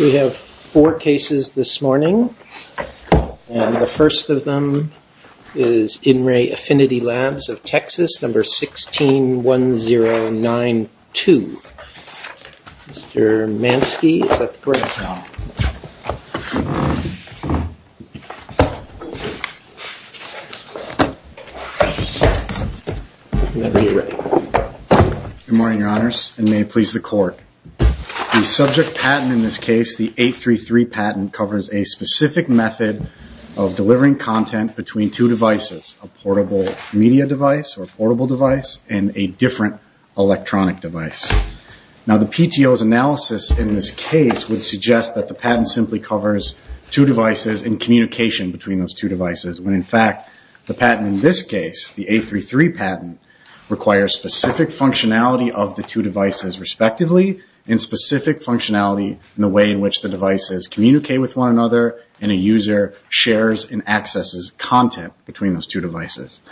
We have four cases this morning, and the first of them is In Re Affinity Labs of Texas, number 161092. Mr. Manske, is that correct? Good morning, your honors, and may it please the court. The subject patent in this case, the 833 patent, covers a specific method of delivering content between two devices, a portable media device, or portable device, and a different electronic device. Now the PTO's analysis in this case would suggest that the patent simply covers two devices and communication between those two devices, when in fact, the patent in this case, the 833 patent, requires specific functionality of the two devices respectively, and specific functionality in the way in which the devices communicate with one another and a user shares and accesses content between those two devices.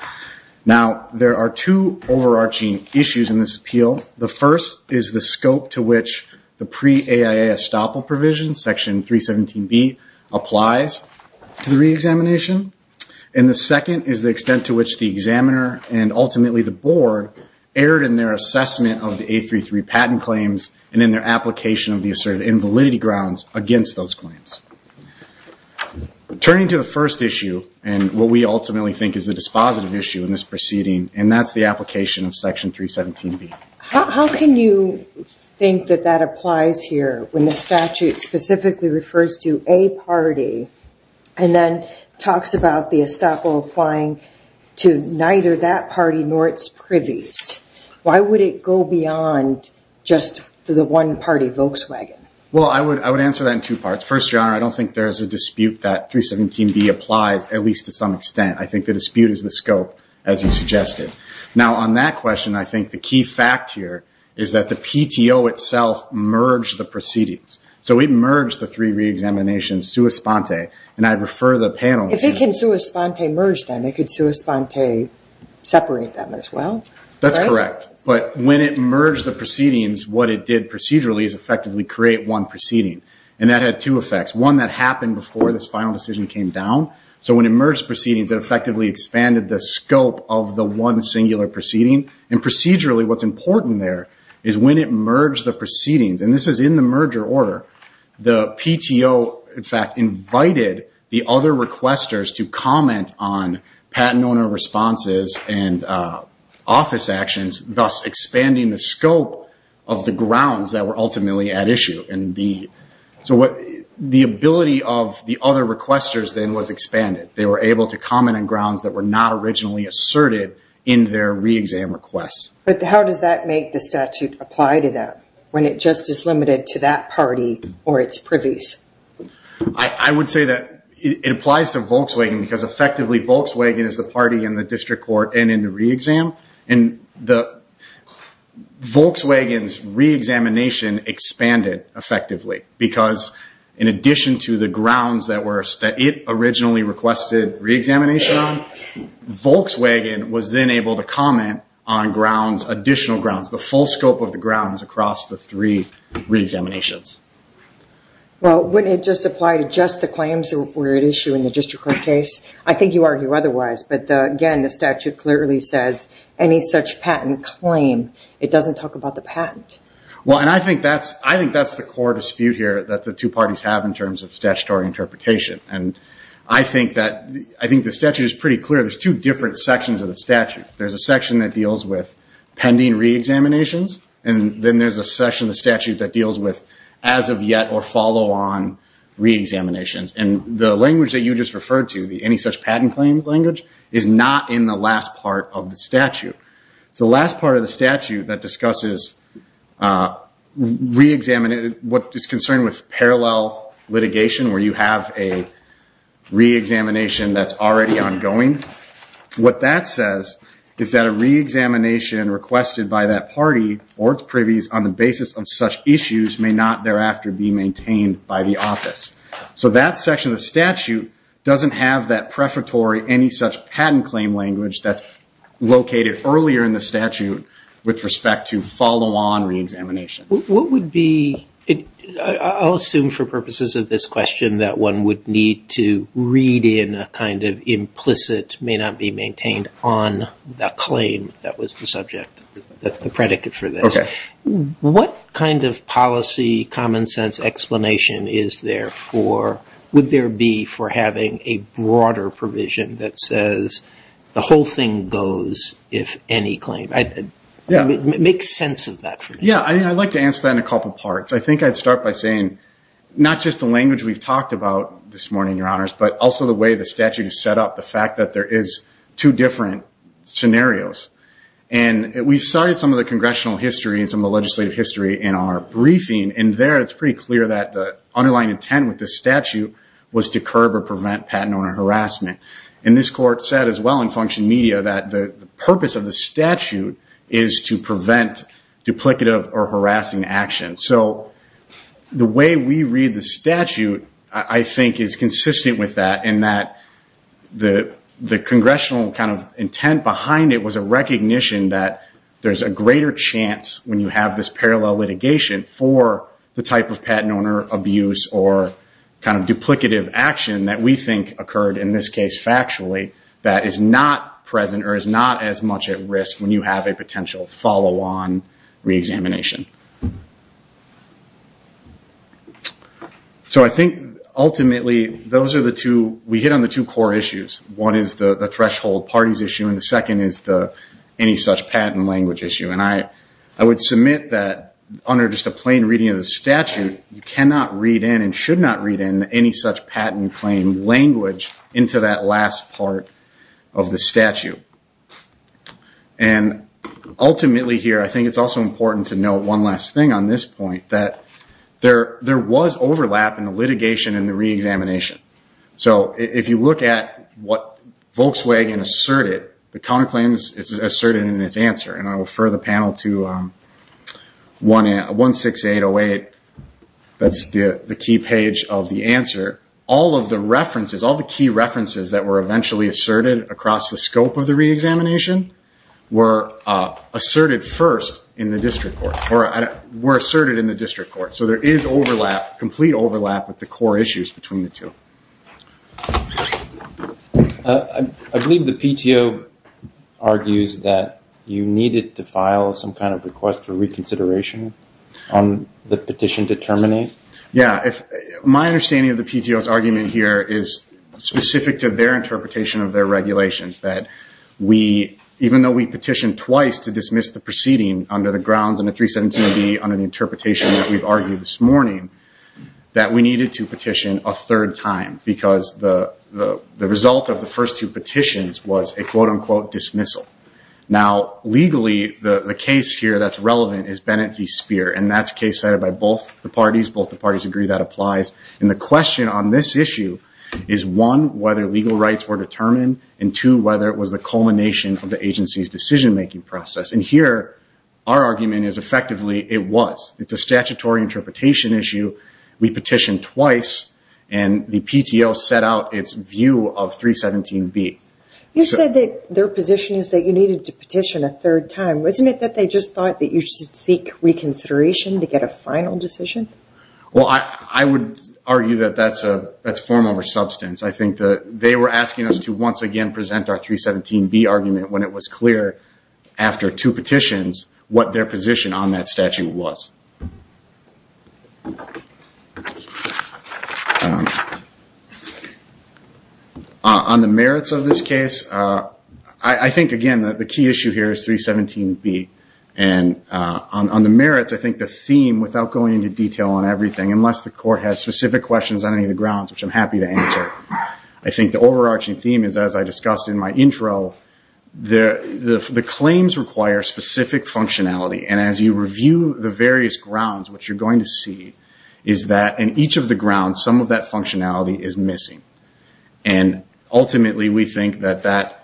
Now, there are two overarching issues in this appeal. The first is the scope to which the pre-AIA estoppel provision, section 317B, applies to the re-examination, and the second is the extent to which the examiner and ultimately the board erred in their assessment of the 833 patent claims and in their application of the asserted invalidity grounds against those claims. Turning to the first issue, and what we ultimately think is the dispositive issue in this proceeding, and that's the application of section 317B. How can you think that that applies here when the statute specifically refers to a party and then talks about the estoppel applying to neither that party nor its privies? Why would it go beyond just the one-party Volkswagen? Well, I would answer that in two parts. First, Your Honor, I don't think there's a dispute that 317B applies, at least to some extent. I think the dispute is the scope, as you suggested. Now, on that question, I think the key fact here is that the PTO itself merged the proceedings. So it merged the three re-examinations sua sponte, and I refer the panel to... If it can sua sponte merge them, it could sua sponte separate them as well, right? That's correct, but when it merged the proceedings, what it did procedurally is effectively create one proceeding, and that had two effects. One, that happened before this final decision came down, so when it merged proceedings, it effectively expanded the scope of the one singular proceeding. Procedurally, what's important there is when it merged the proceedings, and this is in the merger order, the PTO, in fact, invited the other requesters to comment on patent owner responses and office actions, thus expanding the scope of the grounds that were ultimately at issue. So the ability of the other requesters then was expanded. They were able to comment on grounds that were not originally asserted in their re-exam requests. But how does that make the statute apply to that, when it just is limited to that party or its privies? I would say that it applies to Volkswagen, because effectively, Volkswagen is the party in the district court and in the re-exam, and Volkswagen's re-examination expanded effectively, because in addition to the grounds that it originally requested re-examination on, Volkswagen was then able to comment on additional grounds, the full scope of the grounds across the three re-examinations. Well, wouldn't it just apply to just the claims that were at issue in the district court case? I think you argue otherwise, but again, the statute clearly says any such patent claim, it doesn't talk about the patent. Well, and I think that's the core dispute here that the two parties have in terms of statutory interpretation. And I think the statute is pretty clear. There's two different sections of the statute. There's a section that deals with pending re-examinations, and then there's a section of the statute that deals with as of yet or follow on re-examinations. And the language that you just referred to, the any such patent claims language, is not in the last part of the statute. It's the last part of the statute that discusses what is concerned with parallel litigation, where you have a re-examination that's already ongoing. What that says is that a re-examination requested by that party or its privies on the basis of such issues may not thereafter be maintained by the office. So that section of the statute doesn't have that prefatory any such patent claim language that's located earlier in the statute with respect to follow on re-examination. I'll assume for purposes of this question that one would need to read in a kind of implicit may not be maintained on the claim that was the subject, that's the predicate for this. Okay. What kind of policy, common sense explanation would there be for having a broader provision that says the whole thing goes if any claim? Make sense of that for me. Yeah, I'd like to answer that in a couple parts. I think I'd start by saying not just the language we've talked about this morning, your honors, but also the way the statute is set up, the fact that there is two different scenarios. And we started some of the congressional history and some of the legislative history in our briefing, and there it's pretty clear that the underlying intent with the statute was to curb or prevent patent owner harassment. And this court said as well in function media that the purpose of the statute is to prevent duplicative or harassing action. So the way we read the statute I think is consistent with that in that the congressional kind of intent behind it was a recognition that there's a greater chance when you have this parallel litigation for the type of patent owner abuse or kind of duplicative action that we think occurred in this case. Factually, that is not present or is not as much at risk when you have a potential follow-on re-examination. So I think ultimately those are the two, we hit on the two core issues. One is the threshold parties issue, and the second is the any such patent language issue. And I would submit that under just a plain reading of the statute, you cannot read in and should not read in any such patent claim language into that last part of the statute. And ultimately here, I think it's also important to note one last thing on this point, that there was overlap in the litigation and the re-examination. So if you look at what Volkswagen asserted, the counterclaim is asserted in its answer. And I will refer the panel to 16808, that's the key page of the answer. All of the references, all the key references that were eventually asserted across the scope of the re-examination were asserted first in the district court. So there is overlap, complete overlap with the core issues between the two. I believe the PTO argues that you needed to file some kind of request for reconsideration on the petition to terminate. Yeah, my understanding of the PTO's argument here is specific to their interpretation of their regulations. That even though we petitioned twice to dismiss the proceeding under the grounds under 317B, under the interpretation that we've argued this morning, that we needed to petition a third time because the result of the first two petitions was a quote-unquote dismissal. Now legally, the case here that's relevant is Bennett v. Speer, and that's case cited by both the parties. Both the parties agree that applies. And the question on this issue is one, whether legal rights were determined, and two, whether it was the culmination of the agency's decision-making process. And here, our argument is effectively it was. It's a statutory interpretation issue. We petitioned twice, and the PTO set out its view of 317B. You said that their position is that you needed to petition a third time. Wasn't it that they just thought that you should seek reconsideration to get a final decision? Well, I would argue that that's form over substance. I think that they were asking us to once again present our 317B argument when it was clear after two petitions what their position on that statute was. On the merits of this case, I think, again, that the key issue here is 317B. And on the merits, I think the theme, without going into detail on everything, unless the court has specific questions on any of the grounds, which I'm happy to answer. I think the overarching theme is, as I discussed in my intro, the claims require specific functionality. And as you review the various grounds, what you're going to see is that in each of the grounds, some of that functionality is missing. Ultimately, we think that that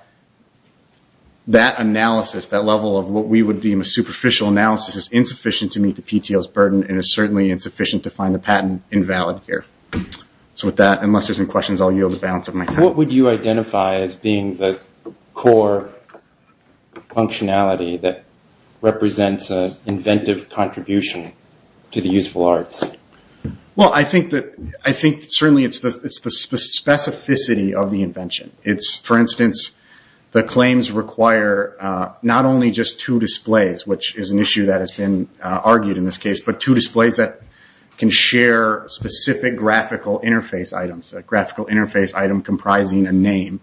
analysis, that level of what we would deem a superficial analysis, is insufficient to meet the PTO's burden and is certainly insufficient to find the patent invalid here. So with that, unless there's any questions, I'll yield the balance of my time. What would you identify as being the core functionality that represents an inventive contribution to the useful arts? Well, I think certainly it's the specificity of the invention. For instance, the claims require not only just two displays, which is an issue that has been argued in this case, but two displays that can share specific graphical interface items. A graphical interface item comprising a name.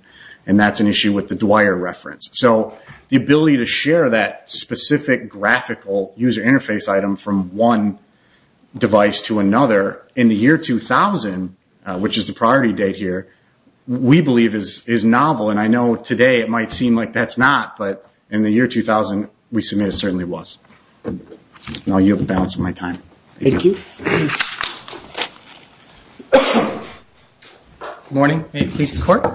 And that's an issue with the Dwyer reference. So the ability to share that specific graphical user interface item from one device to another in the year 2000, which is the priority date here, we believe is novel. And I know today it might seem like that's not, but in the year 2000, we submit it certainly was. And I'll yield the balance of my time. Thank you. Good morning. May it please the court.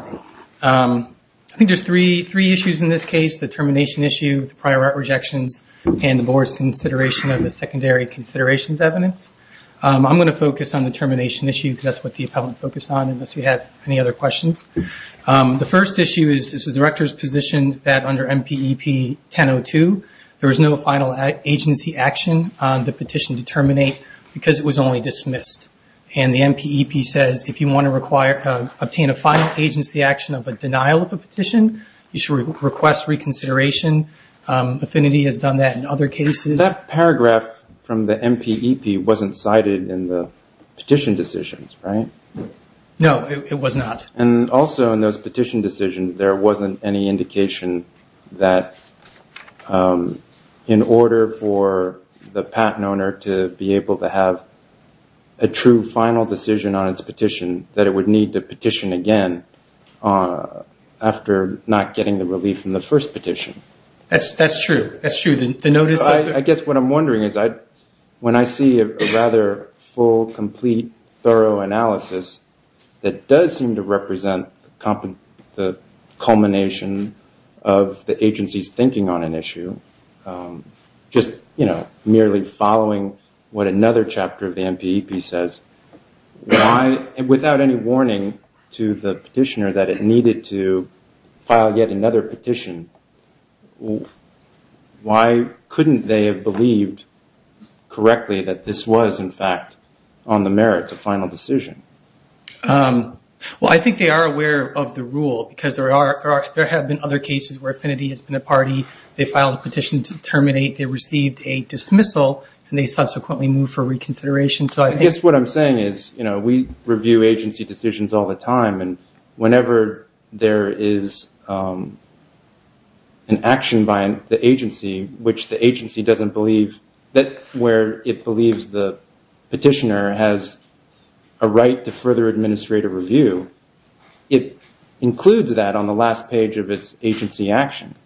I think there's three issues in this case. The termination issue, the prior art rejections, and the board's consideration of the secondary considerations evidence. I'm going to focus on the termination issue because that's what the appellant focused on, unless you have any other questions. The first issue is the director's position that under MPEP 1002, there was no final agency action on the petition to terminate because it was only dismissed. And the MPEP says if you want to obtain a final agency action of a denial of a petition, you should request reconsideration. Affinity has done that in other cases. That paragraph from the MPEP wasn't cited in the petition decisions, right? No, it was not. And also in those petition decisions, there wasn't any indication that in order for the patent owner to be able to have a true final decision on its petition, that it would need to petition again after not getting the relief from the first petition. That's true. I guess what I'm wondering is when I see a rather full, complete, thorough analysis that does seem to represent the culmination of the agency's thinking on an issue, just merely following what another chapter of the MPEP says, without any warning to the petitioner that it needed to file yet another petition, why couldn't they have believed correctly that this was, in fact, on the merits of final decision? Well, I think they are aware of the rule because there have been other cases where Affinity has been a party, they filed a petition to terminate, they received a dismissal, and they subsequently moved for reconsideration. I guess what I'm saying is we review agency decisions all the time, and whenever there is an action by the agency where it believes the petitioner has a right to further administrative review, it includes that on the last page of its agency action.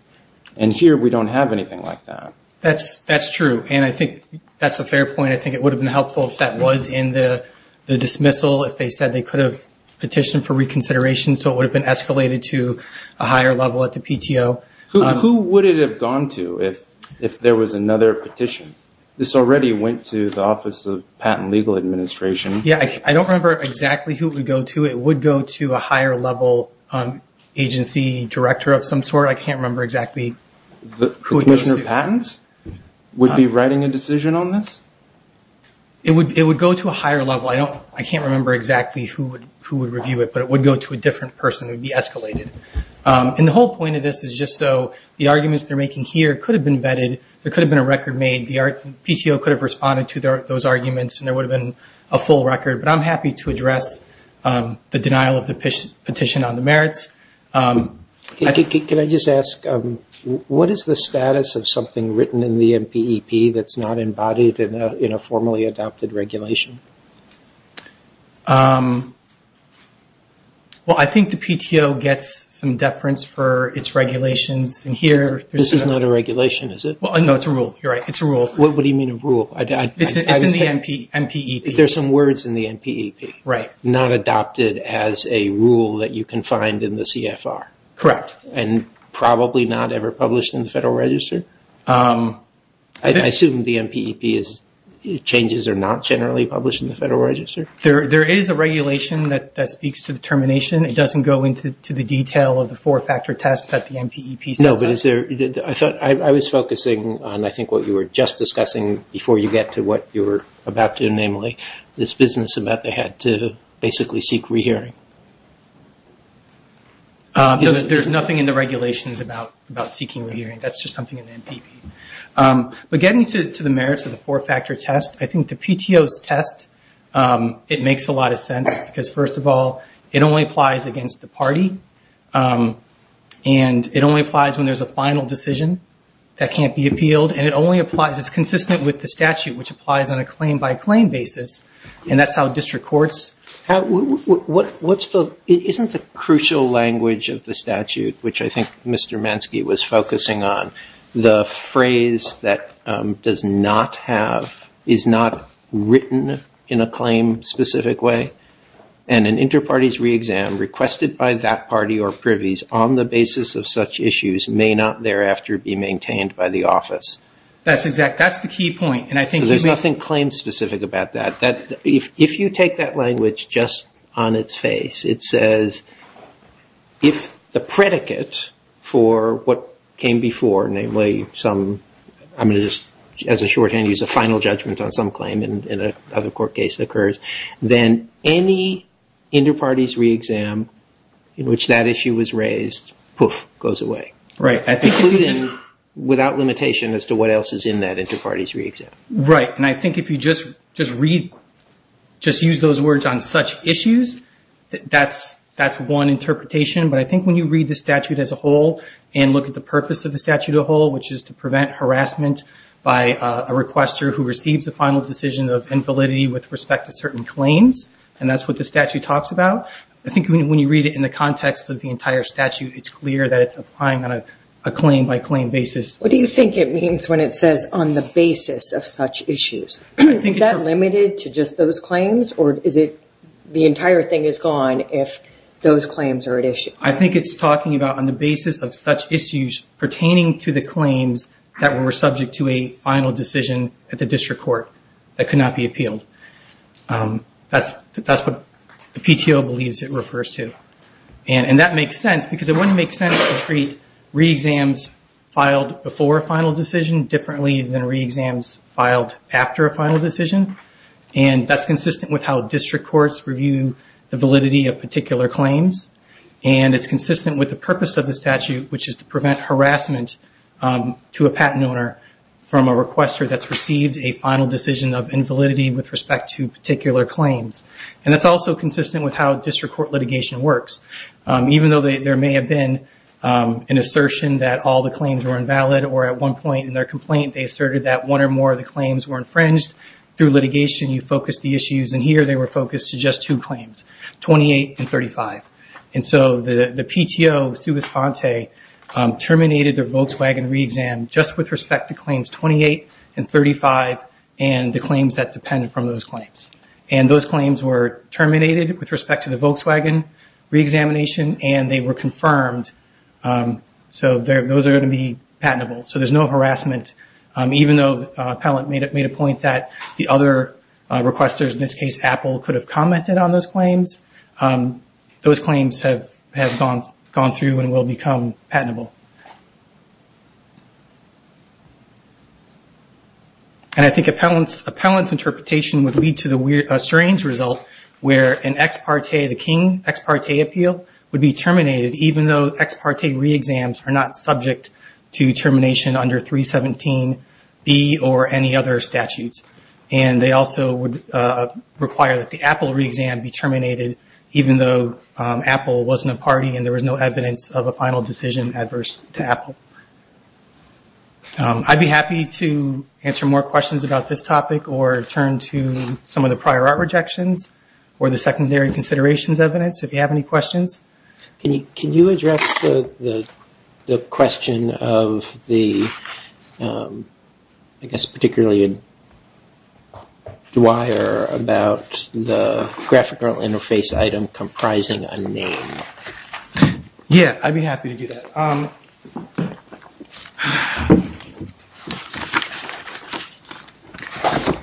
And here, we don't have anything like that. That's true. And I think that's a fair point. I think it would have been helpful if that was in the dismissal, if they said they could have petitioned for reconsideration, so it would have been escalated to a higher level at the PTO. Who would it have gone to if there was another petition? This already went to the Office of Patent and Legal Administration. Yeah, I don't remember exactly who it would go to. It would go to a higher level agency director of some sort. I can't remember exactly who it goes to. Commissioner Patents would be writing a decision on this? It would go to a higher level. I can't remember exactly who would review it, but it would go to a different person. It would be escalated. And the whole point of this is just so the arguments they're making here could have been vetted. There could have been a record made. The PTO could have responded to those arguments, and there would have been a full record. But I'm happy to address the denial of the petition on the merits. Can I just ask, what is the status of something written in the NPEP that's not embodied in a formally adopted regulation? Well, I think the PTO gets some deference for its regulations. This is not a regulation, is it? No, it's a rule. You're right, it's a rule. What do you mean a rule? It's in the NPEP. There's some words in the NPEP. Not adopted as a rule that you can find in the CFR? Correct. And probably not ever published in the Federal Register? I assume the NPEP changes are not generally published in the Federal Register? There is a regulation that speaks to the termination. It doesn't go into the detail of the four-factor test that the NPEP says. No, but I was focusing on, I think, what you were just discussing before you get to what you were about to do, namely, this business about they had to basically seek re-hearing. There's nothing in the regulations about seeking re-hearing. That's just something in the NPEP. But getting to the merits of the four-factor test, I think the PTO's test, it makes a lot of sense because, first of all, it only applies against the party, and it only applies when there's a final decision that can't be appealed, and it only applies, it's consistent with the statute, which applies on a claim-by-claim basis, and that's how district courts. Isn't the crucial language of the statute, which I think Mr. Manske was focusing on, the phrase that does not have, is not written in a claim-specific way? And an inter-parties re-exam requested by that party or privies on the basis of such issues may not thereafter be maintained by the office. That's exact. That's the key point. There's nothing claim-specific about that. If you take that language just on its face, it says if the predicate for what came before, namely some, I'm going to just as a shorthand use a final judgment on some claim in another court case that occurs, then any inter-parties re-exam in which that issue was raised, poof, goes away. Right. Including without limitation as to what else is in that inter-parties re-exam. Right, and I think if you just use those words on such issues, that's one interpretation, but I think when you read the statute as a whole and look at the purpose of the statute as a whole, which is to prevent harassment by a requester who receives a final decision of infallibility with respect to certain claims, and that's what the statute talks about, I think when you read it in the context of the entire statute, it's clear that it's applying on a claim-by-claim basis. What do you think it means when it says on the basis of such issues? Is that limited to just those claims, or is it the entire thing is gone if those claims are at issue? I think it's talking about on the basis of such issues pertaining to the claims that were subject to a final decision at the district court that could not be appealed. That's what the PTO believes it refers to. And that makes sense because it wouldn't make sense to treat re-exams filed before a final decision differently than re-exams filed after a final decision, and that's consistent with how district courts review the validity of particular claims, and it's consistent with the purpose of the statute, which is to prevent harassment to a patent owner from a requester that's received a final decision of invalidity with respect to particular claims. And it's also consistent with how district court litigation works. Even though there may have been an assertion that all the claims were invalid, or at one point in their complaint they asserted that one or more of the claims were infringed, through litigation you focus the issues, and here they were focused to just two claims, 28 and 35. And so the PTO terminated their Volkswagen re-exam just with respect to claims 28 and 35 and the claims that depend from those claims. And those claims were terminated with respect to the Volkswagen re-examination, and they were confirmed. So those are going to be patentable. So there's no harassment, even though Appellant made a point that the other requesters, in this case Apple, could have commented on those claims. Those claims have gone through and will become patentable. And I think Appellant's interpretation would lead to a strange result where an ex parte, the King ex parte appeal would be terminated, even though ex parte re-exams are not subject to termination under 317B or any other statutes. And they also would require that the Apple re-exam be terminated, even though Apple wasn't a party and there was no evidence of a final decision adverse to Apple. I'd be happy to answer more questions about this topic or turn to some of the prior art rejections or the secondary considerations evidence if you have any questions. Can you address the question of the, I guess particularly Dwyer, about the graphical interface item comprising a name? Yeah, I'd be happy to do that.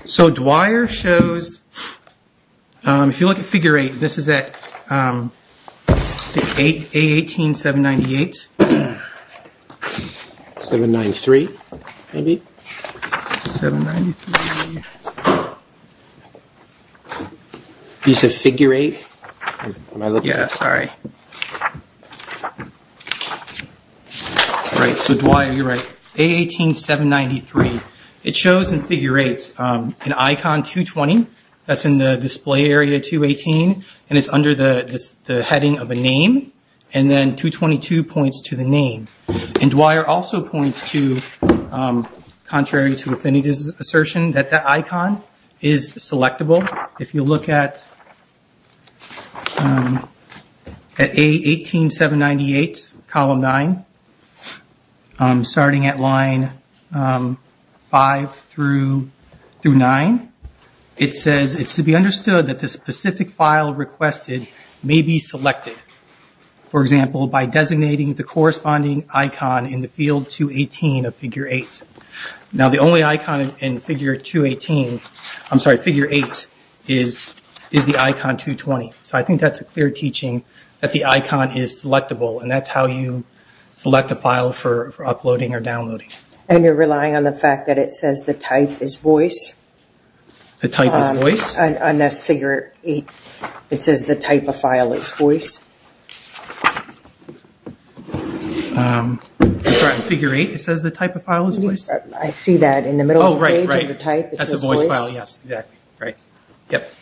So Dwyer shows, if you look at figure 8, this is at A18, 798. 793, maybe? 793. You said figure 8? Yeah, sorry. Right, so Dwyer, you're right. A18, 793. It shows in figure 8 an icon 220 that's in the display area 218 and it's under the heading of a name and then 222 points to the name. And Dwyer also points to, contrary to Affinity's assertion, that that icon is selectable. If you look at A18, 798, column 9, starting at line 5 through 9, it says it's to be understood that the specific file requested may be selected. For example, by designating the corresponding icon in the field 218 of figure 8. Now the only icon in figure 218, I'm sorry, figure 8, is the icon 220. So I think that's a clear teaching that the icon is selectable and that's how you select a file for uploading or downloading. And you're relying on the fact that it says the type is voice? The type is voice? And that's figure 8. It says the type of file is voice. That's right, figure 8, it says the type of file is voice. I see that in the middle of the page. Oh, right, right. It says voice. That's a voice file, yes. Exactly. Right. Yep.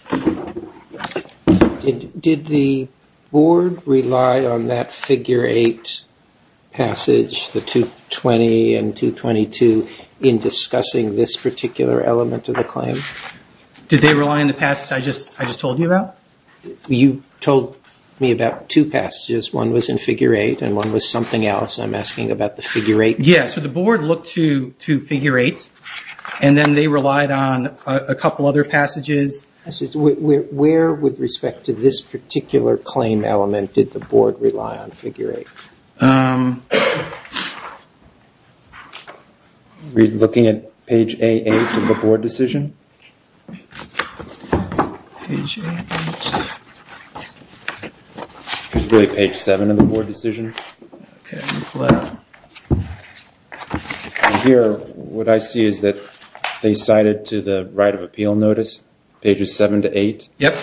Did the board rely on that figure 8 passage, the 220 and 222, in discussing this particular element of the claim? Did they rely on the passage I just told you about? You told me about two passages. One was in figure 8 and one was something else. I'm asking about the figure 8. Yeah, so the board looked to figure 8, and then they relied on a couple other passages. Where, with respect to this particular claim element, did the board rely on figure 8? I'm looking at page A8 of the board decision. Page A8. Really, page 7 of the board decision. Okay. Here, what I see is that they cited to the right of appeal notice pages 7 to 8. Yep,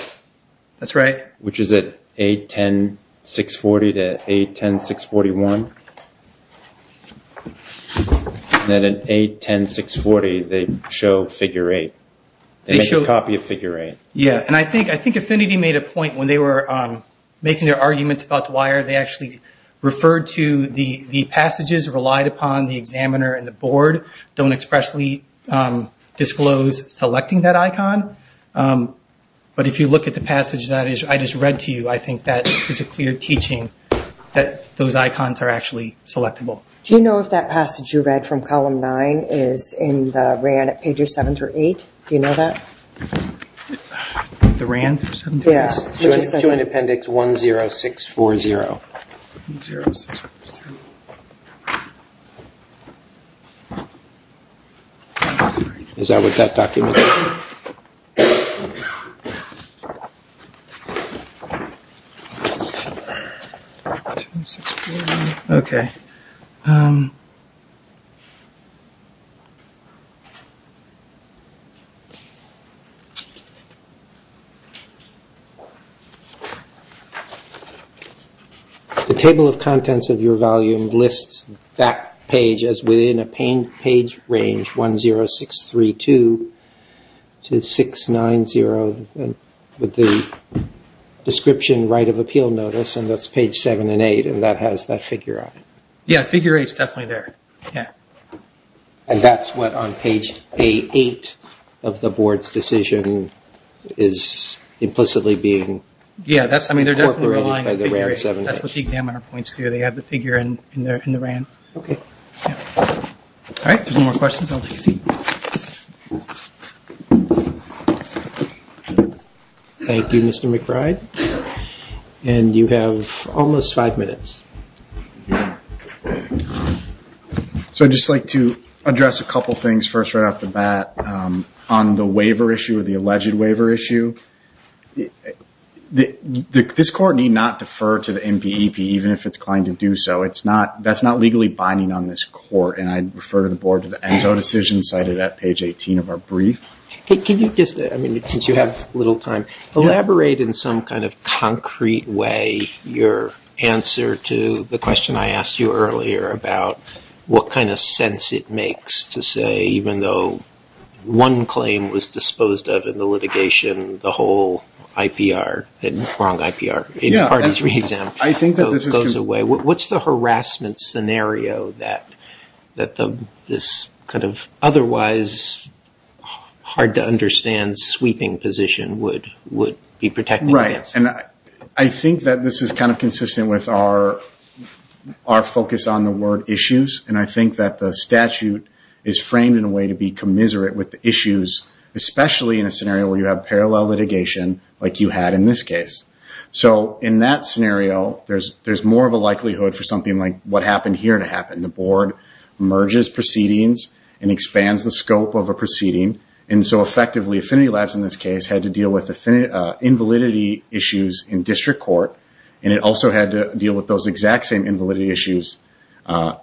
that's right. Which is at 8, 10, 640 to 8, 10, 641. Then at 8, 10, 640, they show figure 8. They make a copy of figure 8. Yeah, and I think Affinity made a point when they were making their arguments about the wire, they actually referred to the passages relied upon, the examiner and the board don't expressly disclose selecting that icon. But if you look at the passage that I just read to you, I think that is a clear teaching that those icons are actually selectable. Do you know if that passage you read from column 9 is in the RAN at pages 7 through 8? Do you know that? The RAN through 7 through 8? Yeah. Which is joint appendix 10640. 10640. Is that what that document is? Okay. The table of contents of your volume lists that page as within a page range 10632 to 690 with the description right of appeal notice, and that's page 7 and 8, and that has that figure on it. Yeah, figure 8 is definitely there. And that's what on page 8 of the board's decision is implicitly being incorporated by the RAN 7. That's what the examiner points to. They have the figure in the RAN. All right, if there's no more questions, I'll take a seat. Thank you, Mr. McBride. And you have almost five minutes. So I'd just like to address a couple things first right off the bat. On the waiver issue, the alleged waiver issue, this court need not defer to the NBEP, even if it's inclined to do so. That's not legally binding on this court, and I'd refer the board to the ENSO decision cited at page 18 of our brief. Can you just, since you have little time, elaborate in some kind of concrete way your answer to the question I asked you earlier about what kind of sense it makes to say, even though one claim was disposed of in the litigation, the whole IPR, wrong IPR, parties re-exam, goes away. What's the harassment scenario that this kind of otherwise hard-to-understand sweeping position would be protecting against? Right, and I think that this is kind of consistent with our focus on the word issues, and I think that the statute is framed in a way to be commiserate with the issues, especially in a scenario where you have parallel litigation like you had in this case. So in that scenario, there's more of a likelihood for something like what happened here to happen. The board merges proceedings and expands the scope of a proceeding, and so effectively, Affinity Labs in this case had to deal with invalidity issues in district court, and it also had to deal with those exact same invalidity issues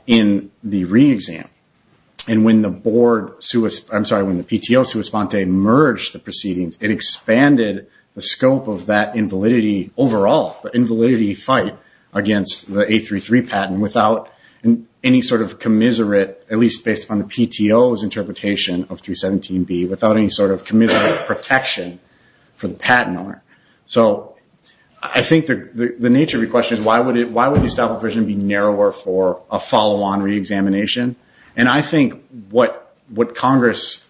in the re-exam. And when the board, I'm sorry, when the PTO sua sponte merged the proceedings, it expanded the scope of that invalidity overall, the invalidity fight against the 833 patent, without any sort of commiserate, at least based upon the PTO's interpretation of 317B, without any sort of commiserate protection for the patent owner. So I think the nature of your question is why would the estoppel provision be narrower for a follow-on re-examination? And I think what Congress,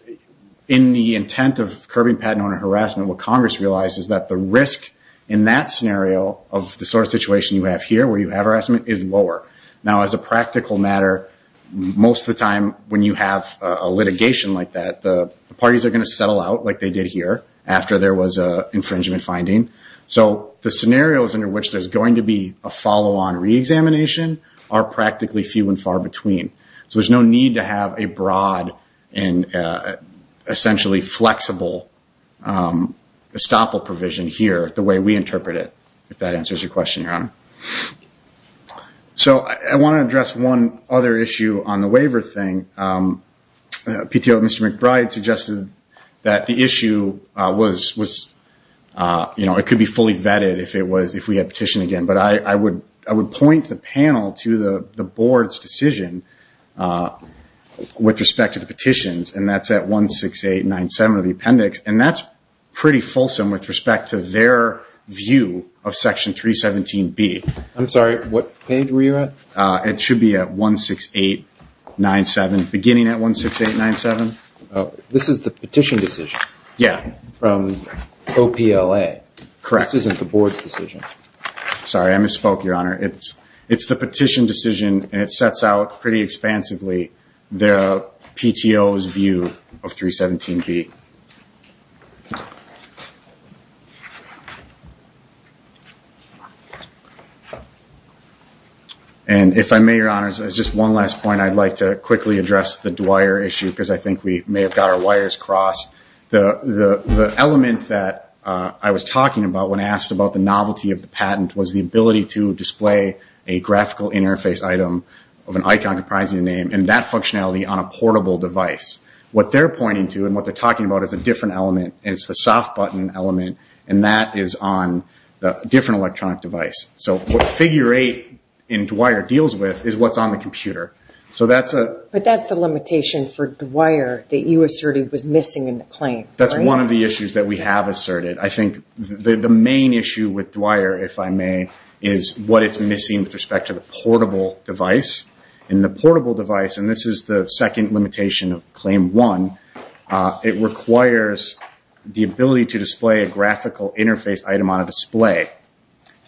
in the intent of curbing patent owner harassment, what Congress realized is that the risk in that scenario of the sort of situation you have here, where you have harassment, is lower. Now, as a practical matter, most of the time when you have a litigation like that, the parties are going to settle out like they did here, after there was an infringement finding. So the scenarios under which there's going to be a follow-on re-examination are practically few and far between. So there's no need to have a broad and essentially flexible estoppel provision here the way we interpret it, if that answers your question, Your Honor. So I want to address one other issue on the waiver thing. PTO, Mr. McBride suggested that the issue was, you know, it could be fully vetted if we had petition again. But I would point the panel to the board's decision with respect to the petitions, and that's at 16897 of the appendix. And that's pretty fulsome with respect to their view of Section 317B. I'm sorry, what page were you at? It should be at 16897, beginning at 16897. This is the petition decision? Yeah. From OPLA? Correct. This isn't the board's decision. Sorry, I misspoke, Your Honor. It's the petition decision, and it sets out pretty expansively the PTO's view of 317B. And if I may, Your Honor, as just one last point, I'd like to quickly address the Dwyer issue because I think we may have got our wires crossed. The element that I was talking about when asked about the novelty of the patent was the ability to display a graphical interface item of an icon comprising a name, and that functionality on a portable device. What they're pointing to and what they're talking about is a different element, and it's the soft button element, and that is on a different electronic device. So what Figure 8 in Dwyer deals with is what's on the computer. But that's the limitation for Dwyer that you asserted was missing in the claim, right? That's one of the issues that we have asserted. I think the main issue with Dwyer, if I may, is what it's missing with respect to the portable device. In the portable device, and this is the second limitation of Claim 1, it requires the ability to display a graphical interface item on a display,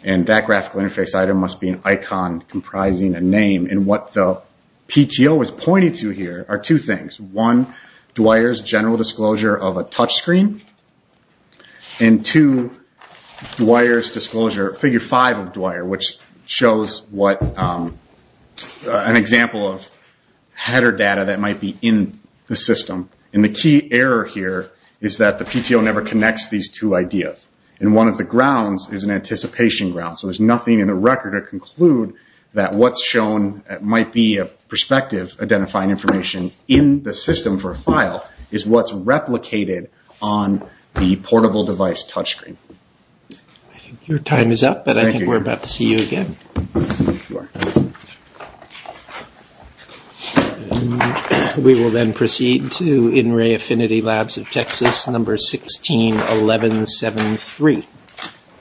and that graphical interface item must be an icon comprising a name. What the PTO is pointing to here are two things. One, Dwyer's general disclosure of a touchscreen, and two, Dwyer's disclosure, Figure 5 of Dwyer, which shows an example of header data that might be in the system. The key error here is that the PTO never connects these two ideas. And one of the grounds is an anticipation ground. So there's nothing in the record to conclude that what's shown might be a perspective identifying information in the system for a file is what's replicated on the portable device touchscreen. I think your time is up, but I think we're about to see you again. Thank you. Thank you. We will then proceed to In Ray Affinity Labs of Texas, number 161173.